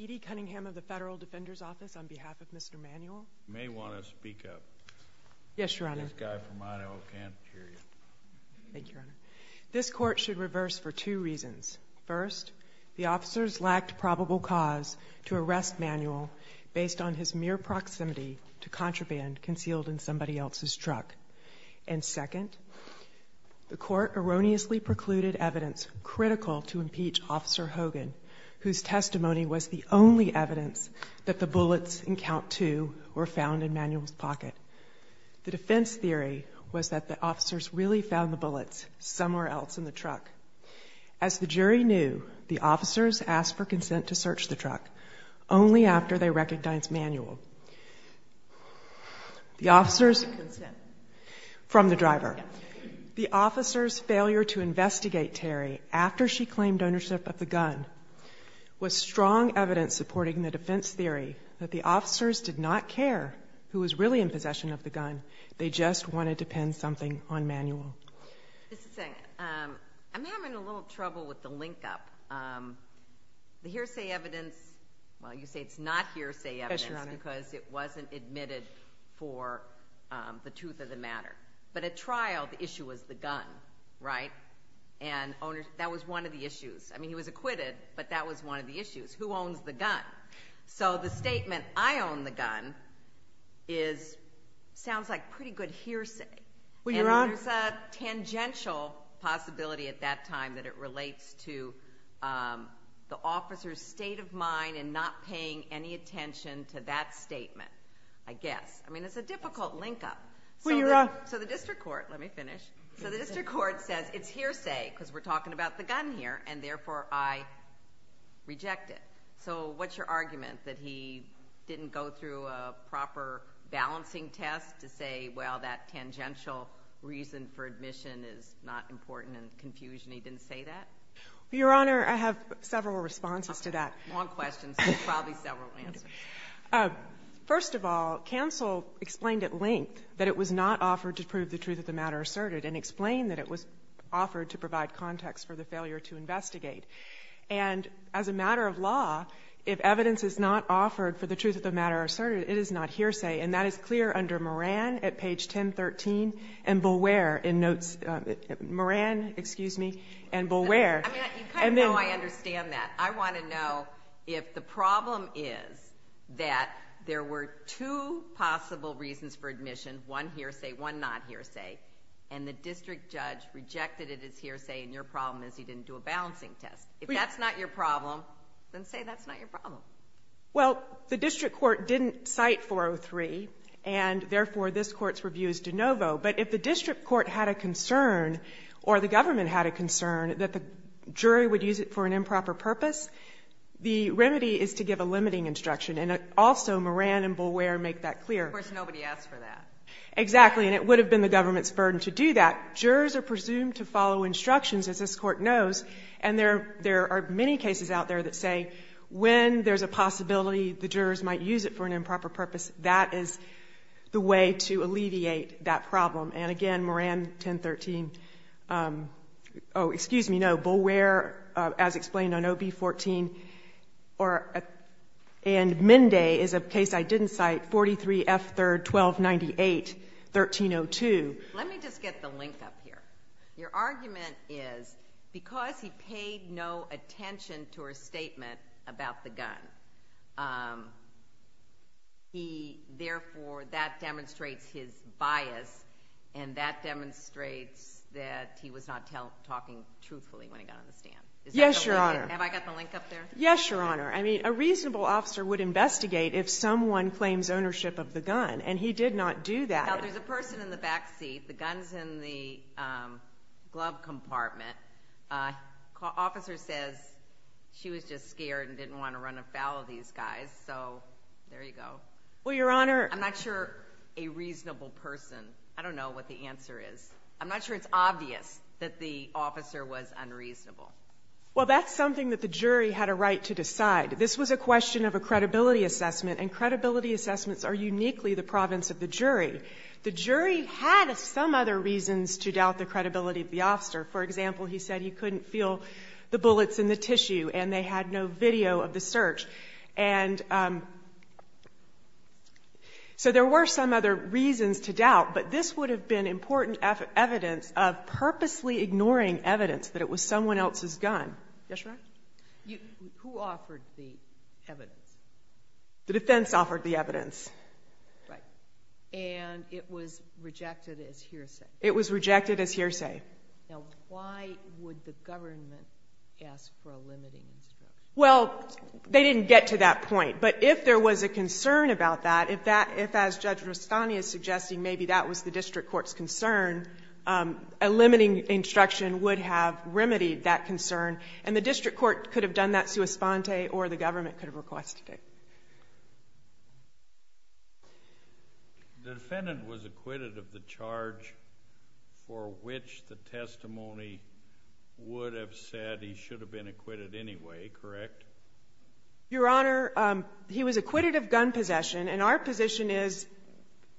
E.D. Cunningham of the Federal Defender's Office on behalf of Mr. Manuel. You may want to speak up. Yes, Your Honor. This guy from Idaho can't hear you. Thank you, Your Honor. This Court should reverse for two reasons. First, the officers lacked probable cause to arrest Manuel based on his mere proximity to contraband concealed in somebody else's truck. And second, the Court erroneously precluded evidence critical to impeach Officer Hogan, whose testimony was the only evidence that the bullets in Count 2 were found in Manuel's pocket. The defense theory was that the officers really found the bullets somewhere else in the truck. As the jury knew, the officers asked for consent to search the truck only after they recognized Manuel. The officers... Consent. From the driver. Yes. The officers' failure to investigate Terry after she claimed ownership of the gun was strong evidence supporting the defense theory that the officers did not care who was really in possession of the gun. They just wanted to pin something on Manuel. Just a second. I'm having a little trouble with the link-up. The hearsay evidence, well, you say it's not hearsay evidence... Because it wasn't admitted for the truth of the matter. But at trial, the issue was the gun, right? And that was one of the issues. I mean, he was acquitted, but that was one of the issues. Who owns the gun? So the statement, I own the gun, sounds like pretty good hearsay. Well, Your Honor... And there's a tangential possibility at that time that it relates to the officers' state of mind and not paying any attention to that statement, I guess. I mean, it's a difficult link-up. So the district court says it's hearsay because we're talking about the gun here, and therefore I reject it. So what's your argument, that he didn't go through a proper balancing test to say, well, that tangential reason for admission is not important and confusion, he didn't say that? Your Honor, I have several responses to that. Long questions, but probably several answers. First of all, counsel explained at length that it was not offered to prove the truth of the matter asserted and explained that it was offered to provide context for the failure to investigate. And as a matter of law, if evidence is not offered for the truth of the matter asserted, it is not hearsay, and that is clear under Moran at page 1013 and Boulware in notes. Moran, excuse me, and Boulware. You kind of know I understand that. I want to know if the problem is that there were two possible reasons for admission, one hearsay, one not hearsay, and the district judge rejected it as hearsay and your problem is he didn't do a balancing test. If that's not your problem, then say that's not your problem. Well, the district court didn't cite 403, and therefore this court's review is de novo. But if the district court had a concern or the government had a concern that the jury would use it for an improper purpose, the remedy is to give a limiting instruction, and also Moran and Boulware make that clear. Of course nobody asked for that. Exactly, and it would have been the government's burden to do that. Jurors are presumed to follow instructions, as this court knows, and there are many cases out there that say when there's a possibility the jurors might use it for an improper purpose, that is the way to alleviate that problem. And again, Moran, 1013. Oh, excuse me, no, Boulware, as explained on OB-14, and Mende is a case I didn't cite, 43 F. 3rd, 1298, 1302. Let me just get the link up here. Your argument is because he paid no attention to her statement about the gun, therefore that demonstrates his bias, and that demonstrates that he was not talking truthfully when he got on the stand. Yes, Your Honor. Have I got the link up there? Yes, Your Honor. I mean, a reasonable officer would investigate if someone claims ownership of the gun, and he did not do that. Now, there's a person in the back seat. The gun's in the glove compartment. Officer says she was just scared and didn't want to run afoul of these guys, so there you go. Well, Your Honor. I'm not sure a reasonable person, I don't know what the answer is. I'm not sure it's obvious that the officer was unreasonable. Well, that's something that the jury had a right to decide. This was a question of a credibility assessment, and credibility assessments are uniquely the province of the jury. The jury had some other reasons to doubt the credibility of the officer. For example, he said he couldn't feel the bullets in the tissue, and they had no video of the search. And so there were some other reasons to doubt, but this would have been important evidence of purposely ignoring evidence that it was someone else's gun. Yes, Your Honor. Who offered the evidence? The defense offered the evidence. Right. And it was rejected as hearsay. It was rejected as hearsay. Now, why would the government ask for a limiting instruction? Well, they didn't get to that point, but if there was a concern about that, if, as Judge Rustani is suggesting, maybe that was the district court's concern, a limiting instruction would have remedied that concern, and the district court could have done that sua sponte or the government could have requested it. The defendant was acquitted of the charge for which the testimony would have said he should have been acquitted anyway, correct? Your Honor, he was acquitted of gun possession, and our position is he...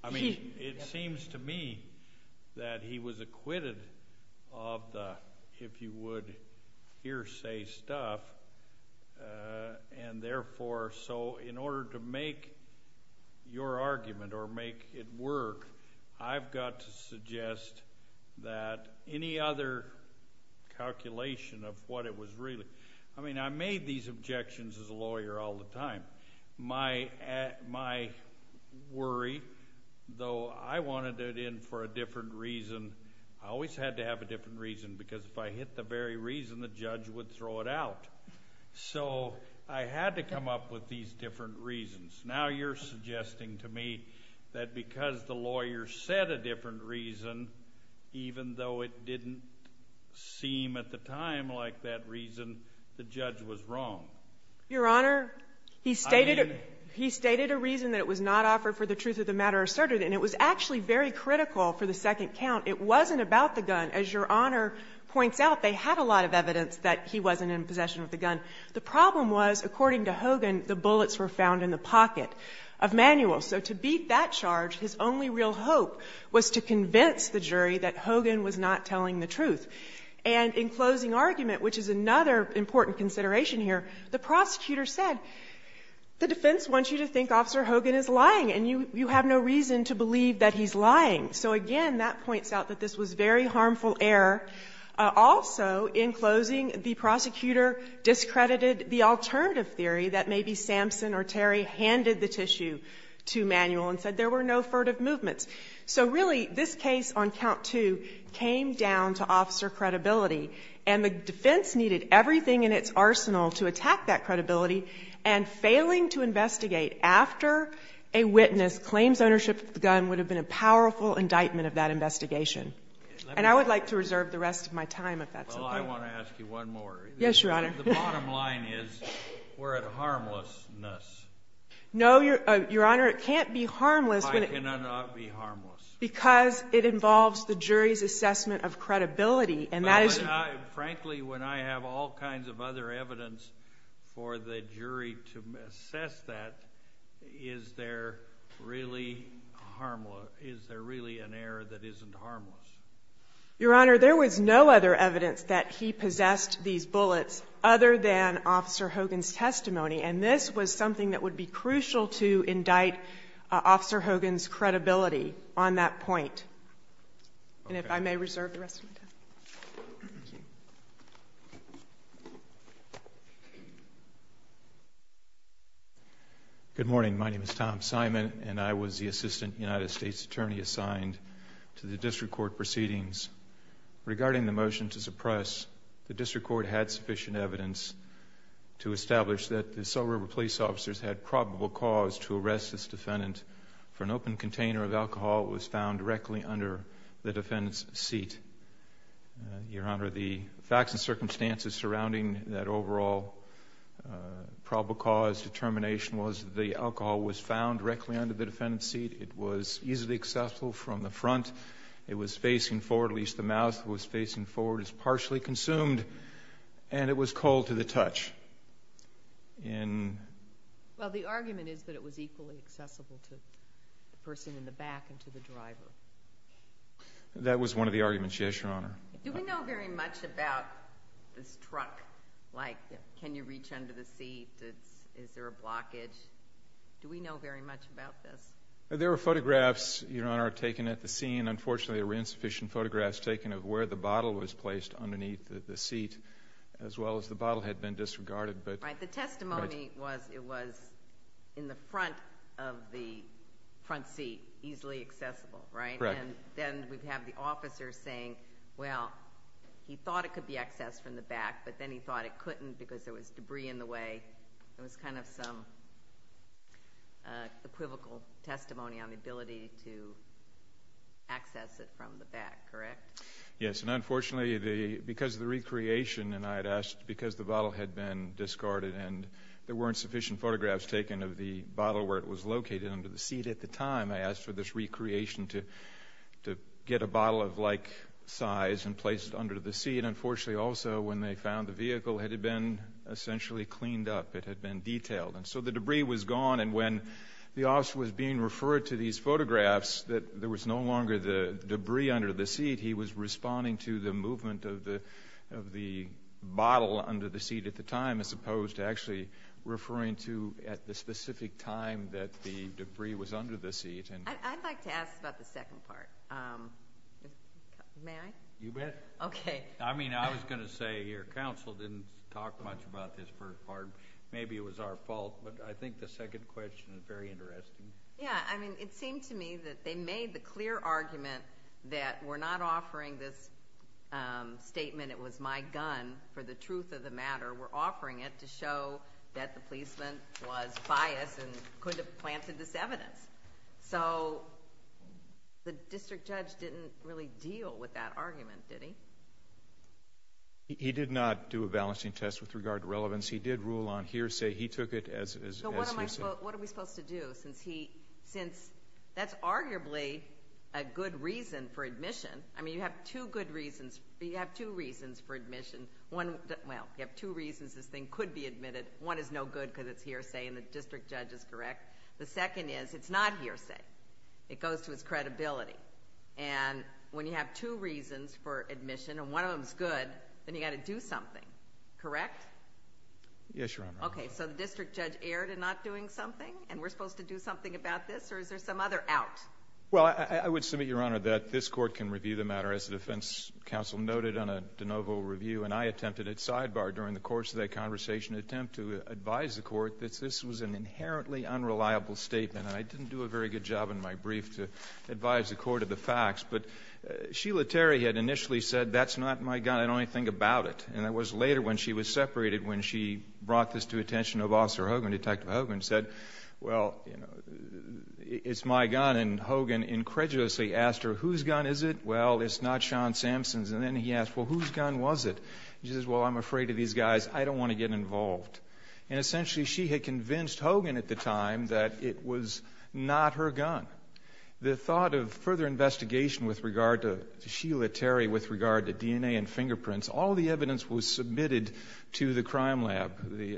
I mean, it seems to me that he was acquitted of the, if you would, hearsay stuff, and therefore, so in order to make your argument or make it work, I've got to suggest that any other calculation of what it was really... I mean, I made these objections as a lawyer all the time. My worry, though I wanted it in for a different reason, I always had to have a different reason, because if I hit the very reason, the judge would throw it out. So I had to come up with these different reasons. Now you're suggesting to me that because the lawyer said a different reason, even though it didn't seem at the time like that reason, the judge was wrong. Your Honor, he stated... I mean... He stated a reason that it was not offered for the truth of the matter asserted, and it was actually very critical for the second count. It wasn't about the gun. As Your Honor points out, they had a lot of evidence that he wasn't in possession of the gun. The problem was, according to Hogan, the bullets were found in the pocket of Manuel. So to beat that charge, his only real hope was to convince the jury that Hogan was not telling the truth. And in closing argument, which is another important consideration here, the prosecutor said the defense wants you to think Officer Hogan is lying, and you have no reason to believe that he's lying. So again, that points out that this was very harmful error. Also, in closing, the prosecutor discredited the alternative theory that maybe Sampson or Terry handed the tissue to Manuel and said there were no furtive movements. So really, this case on count two came down to officer credibility, and the defense needed everything in its arsenal to attack that credibility. And failing to investigate after a witness claims ownership of the gun would have been a powerful indictment of that investigation. And I would like to reserve the rest of my time if that's okay. Well, I want to ask you one more. Yes, Your Honor. The bottom line is we're at harmlessness. No, Your Honor, it can't be harmless. Why can it not be harmless? Because it involves the jury's assessment of credibility. Frankly, when I have all kinds of other evidence for the jury to assess that, is there really an error that isn't harmless? Your Honor, there was no other evidence that he possessed these bullets other than Officer Hogan's testimony, and this was something that would be crucial to indict Officer Hogan's credibility on that point. And if I may reserve the rest of my time. Thank you. Good morning. My name is Tom Simon, and I was the Assistant United States Attorney assigned to the district court proceedings. Regarding the motion to suppress, the district court had sufficient evidence to establish that the Salt River police officers had probable cause to arrest this defendant for an open container of alcohol that was found directly under the defendant's seat. Your Honor, the facts and circumstances surrounding that overall probable cause determination was that the alcohol was found directly under the defendant's seat. It was easily accessible from the front. It was facing forward, at least the mouth was facing forward. It was partially consumed, and it was cold to the touch. Well, the argument is that it was equally accessible to the person in the back and to the driver. That was one of the arguments, yes, Your Honor. Do we know very much about this truck? Like can you reach under the seat? Is there a blockage? Do we know very much about this? There were photographs, Your Honor, taken at the scene. Unfortunately, there were insufficient photographs taken of where the bottle was placed underneath the seat as well as the bottle had been disregarded. The testimony was it was in the front of the front seat, easily accessible, right? Correct. Then we have the officer saying, well, he thought it could be accessed from the back, but then he thought it couldn't because there was debris in the way. It was kind of some equivocal testimony on the ability to access it from the back, correct? Yes, and unfortunately, because of the recreation, and I had asked because the bottle had been discarded and there weren't sufficient photographs taken of the bottle where it was located under the seat at the time, I asked for this recreation to get a bottle of like size and place it under the seat. Unfortunately, also, when they found the vehicle, it had been essentially cleaned up. It had been detailed. So the debris was gone, and when the officer was being referred to these photographs that there was no longer the debris under the seat, he was responding to the movement of the bottle under the seat at the time as opposed to actually referring to at the specific time that the debris was under the seat. I'd like to ask about the second part. May I? You bet. Okay. I mean, I was going to say your counsel didn't talk much about this first part. Maybe it was our fault, but I think the second question is very interesting. Yeah. I mean, it seemed to me that they made the clear argument that we're not offering this statement, it was my gun for the truth of the matter. We're offering it to show that the policeman was biased and could have planted this evidence. So the district judge didn't really deal with that argument, did he? He did not do a balancing test with regard to relevance. He did rule on hearsay. He took it as hearsay. Well, what are we supposed to do since that's arguably a good reason for admission? I mean, you have two good reasons. You have two reasons for admission. Well, you have two reasons this thing could be admitted. One is no good because it's hearsay and the district judge is correct. The second is it's not hearsay. It goes to its credibility. And when you have two reasons for admission and one of them is good, then you've got to do something, correct? Yes, Your Honor. Okay, so the district judge erred in not doing something and we're supposed to do something about this or is there some other out? Well, I would submit, Your Honor, that this court can review the matter, as the defense counsel noted on a de novo review, and I attempted at sidebar during the course of that conversation to attempt to advise the court that this was an inherently unreliable statement. I didn't do a very good job in my brief to advise the court of the facts, but Sheila Terry had initially said, that's not my gun, I don't want to think about it. And that was later when she was separated, when she brought this to attention of Officer Hogan, Detective Hogan, and said, well, it's my gun. And Hogan incredulously asked her, whose gun is it? Well, it's not Sean Samson's. And then he asked, well, whose gun was it? She says, well, I'm afraid of these guys. I don't want to get involved. And essentially she had convinced Hogan at the time that it was not her gun. The thought of further investigation with regard to Sheila Terry, with regard to DNA and fingerprints, all the evidence was submitted to the crime lab.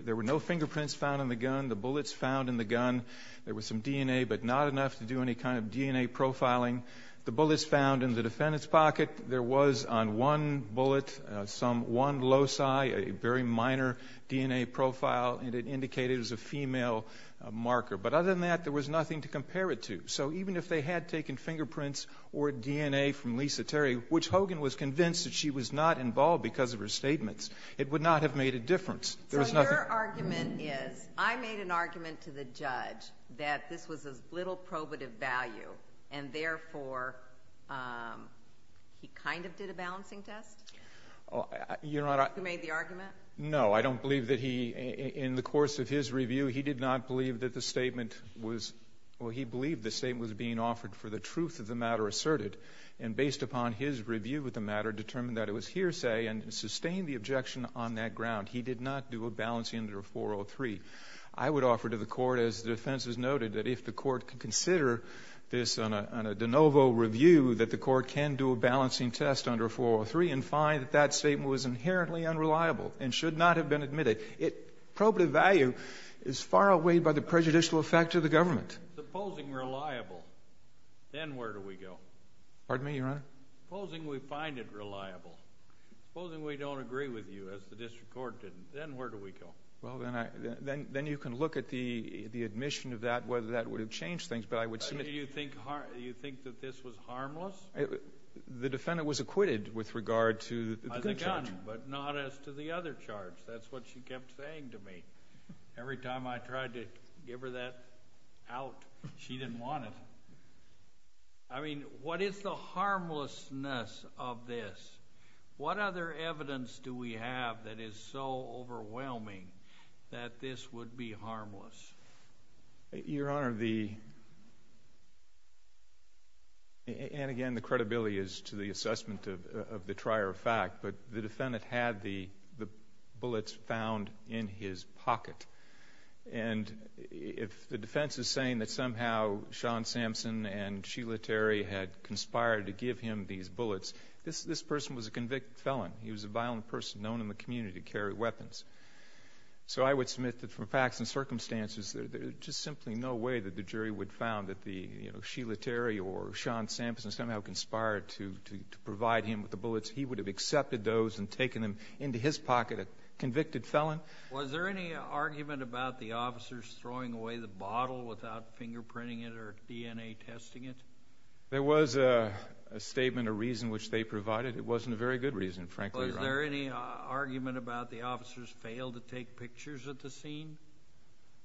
There were no fingerprints found in the gun, the bullets found in the gun. There was some DNA, but not enough to do any kind of DNA profiling. The bullets found in the defendant's pocket, there was on one bullet, some one loci, a very minor DNA profile, and it indicated it was a female marker. But other than that, there was nothing to compare it to. So even if they had taken fingerprints or DNA from Lisa Terry, which Hogan was convinced that she was not involved because of her statements, it would not have made a difference. So your argument is, I made an argument to the judge that this was of little probative value, and therefore he kind of did a balancing test? Your Honor. He made the argument? No. I don't believe that he, in the course of his review, he did not believe that the statement was, well, he believed the statement was being offered for the truth of the matter asserted. And based upon his review of the matter, determined that it was hearsay and sustained the objection on that ground. He did not do a balancing test under 403. I would offer to the Court, as the defense has noted, that if the Court can consider this on a de novo review, that the Court can do a balancing test under 403 and find that that statement was inherently unreliable and should not have been admitted. Probative value is far outweighed by the prejudicial effect of the government. Supposing reliable, then where do we go? Pardon me, Your Honor? Supposing we find it reliable. Supposing we don't agree with you, as the district court did, then where do we go? Well, then you can look at the admission of that, whether that would have changed things. Do you think that this was harmless? The defendant was acquitted with regard to the good charge. But not as to the other charge. That's what she kept saying to me. Every time I tried to give her that out, she didn't want it. I mean, what is the harmlessness of this? What other evidence do we have that is so overwhelming that this would be harmless? Your Honor, the... and, again, the credibility is to the assessment of the trier of fact, but the defendant had the bullets found in his pocket. And if the defense is saying that somehow Sean Sampson and Sheila Terry had conspired to give him these bullets, this person was a convicted felon. He was a violent person known in the community to carry weapons. So I would submit that from facts and circumstances, there's just simply no way that the jury would have found that Sheila Terry or Sean Sampson somehow conspired to provide him with the bullets. He would have accepted those and taken them into his pocket, a convicted felon. Was there any argument about the officers throwing away the bottle without fingerprinting it or DNA testing it? There was a statement, a reason which they provided. It wasn't a very good reason, frankly. Was there any argument about the officers failed to take pictures at the scene?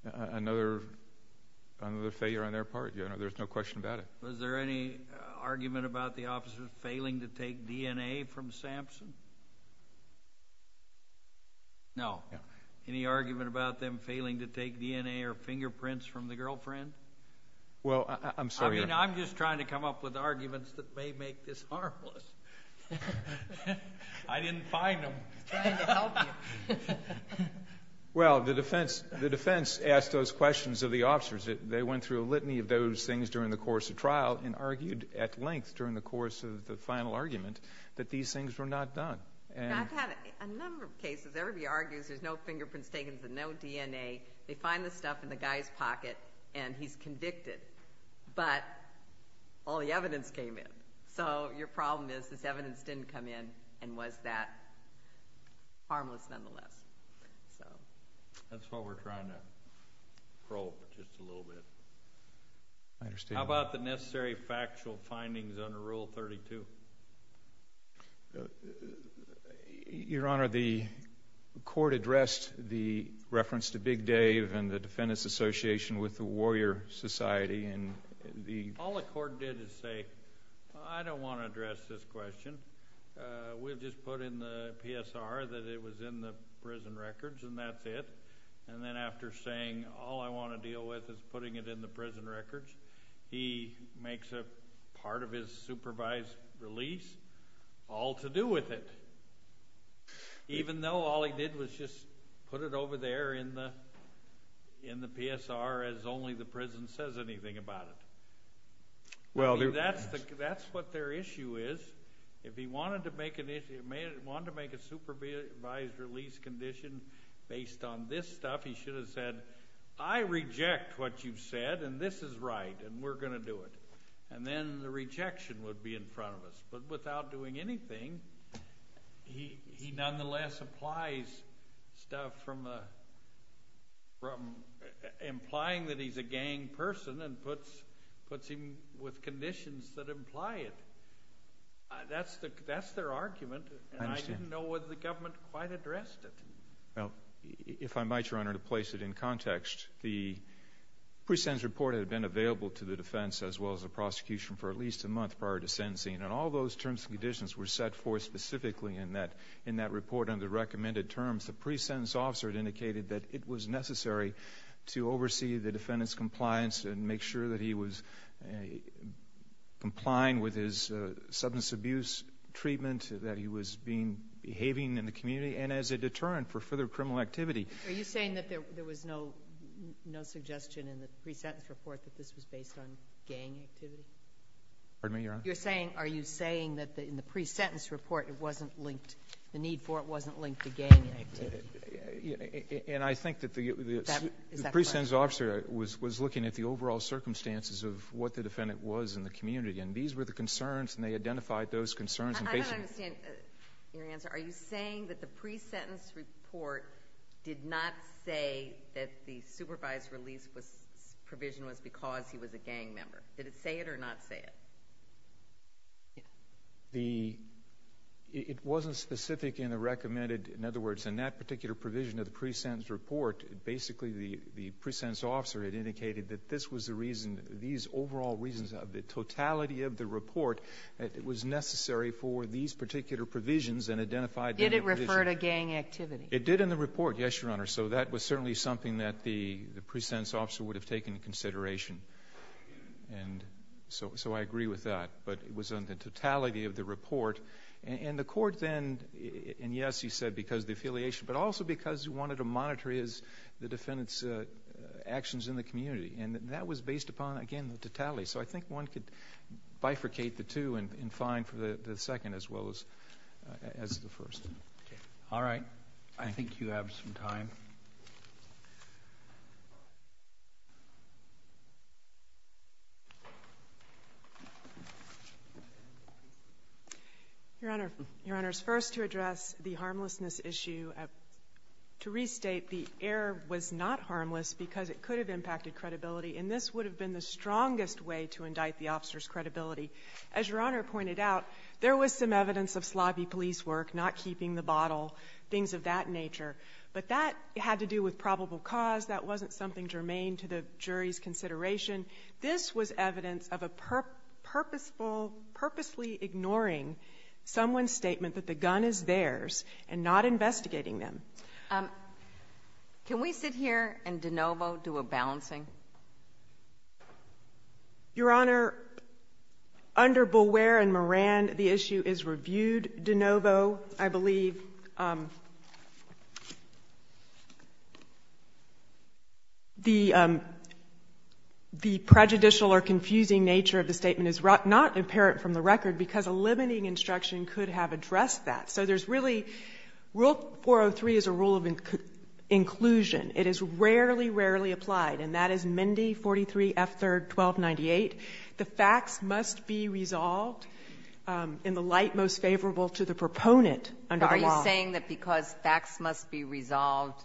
Another failure on their part. Your Honor, there's no question about it. Was there any argument about the officers failing to take DNA from Sampson? No. Any argument about them failing to take DNA or fingerprints from the girlfriend? Well, I'm sorry, Your Honor. I mean, I'm just trying to come up with arguments that may make this harmless. I didn't find them. Well, the defense asked those questions of the officers. They went through a litany of those things during the course of trial and argued at length during the course of the final argument that these things were not done. I've had a number of cases. Everybody argues there's no fingerprints taken and no DNA. They find the stuff in the guy's pocket, and he's convicted. But all the evidence came in. So your problem is this evidence didn't come in and was that harmless nonetheless. That's what we're trying to probe just a little bit. I understand. How about the necessary factual findings under Rule 32? Your Honor, the court addressed the reference to Big Dave and the defendant's association with the Warrior Society. All the court did is say, I don't want to address this question. We'll just put in the PSR that it was in the prison records, and that's it. And then after saying, all I want to deal with is putting it in the prison records, he makes a part of his supervised release all to do with it, even though all he did was just put it over there in the PSR as only the prison says anything about it. That's what their issue is. If he wanted to make a supervised release condition based on this stuff, he should have said, I reject what you've said, and this is right, and we're going to do it. And then the rejection would be in front of us. But without doing anything, he nonetheless applies stuff from implying that he's a gang person and puts him with conditions that imply it. That's their argument, and I didn't know whether the government quite addressed it. Well, if I might, Your Honor, to place it in context, the pre-sentence report had been available to the defense as well as the prosecution for at least a month prior to sentencing, and all those terms and conditions were set forth specifically in that report under recommended terms. The pre-sentence officer had indicated that it was necessary to oversee the defendant's compliance and make sure that he was complying with his substance abuse treatment, that he was behaving in the community, and as a deterrent for further criminal activity. Are you saying that there was no suggestion in the pre-sentence report that this was based on gang activity? Pardon me, Your Honor? Are you saying that in the pre-sentence report the need for it wasn't linked to gang activity? And I think that the pre-sentence officer was looking at the overall circumstances of what the defendant was in the community, and these were the concerns and they identified those concerns. I don't understand your answer. Are you saying that the pre-sentence report did not say that the supervised release provision was because he was a gang member? Did it say it or not say it? It wasn't specific in the recommended. In other words, in that particular provision of the pre-sentence report, basically the pre-sentence officer had indicated that this was the reason, these overall reasons of the totality of the report, that it was necessary for these particular provisions and identified them. Did it refer to gang activity? It did in the report, yes, Your Honor. So that was certainly something that the pre-sentence officer would have taken into consideration. And so I agree with that. But it was on the totality of the report. And the court then, and yes, he said because of the affiliation, but also because he wanted to monitor the defendant's actions in the community. And that was based upon, again, the totality. So I think one could bifurcate the two and fine for the second as well as the first. All right. I think you have some time. Your Honor, Your Honor, first to address the harmlessness issue, to restate the error was not harmless because it could have impacted credibility, and this would have been the strongest way to indict the officer's credibility. As Your Honor pointed out, there was some evidence of slobby police work, not keeping the bottle, things of that nature. But that had to do with probable cause. That wasn't something germane to the jury's consideration. This was evidence of a purposefully ignoring someone's statement that the gun is theirs and not investigating them. Can we sit here and de novo do a balancing? Your Honor, under Beware and Moran, the issue is reviewed de novo. I believe the prejudicial or confusing nature of the statement is not apparent from the record because a limiting instruction could have addressed that. So there's really rule 403 is a rule of inclusion. It is rarely, rarely applied. And that is Mendi 43 F. 3rd 1298. The facts must be resolved in the light most favorable to the proponent under the law. But are you saying that because facts must be resolved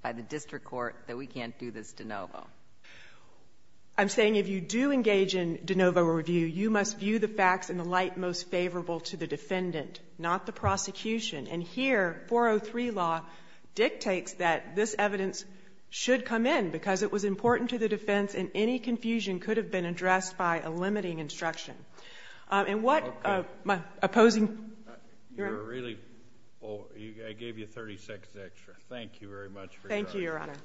by the district court that we can't do this de novo? I'm saying if you do engage in de novo review, you must view the facts in the light most favorable to the defendant, not the prosecution. And here, 403 law dictates that this evidence should come in because it was important to the defense and any confusion could have been addressed by a limiting instruction. And what opposing... I gave you 30 seconds extra. Thank you very much for your time. Thank you, Your Honor.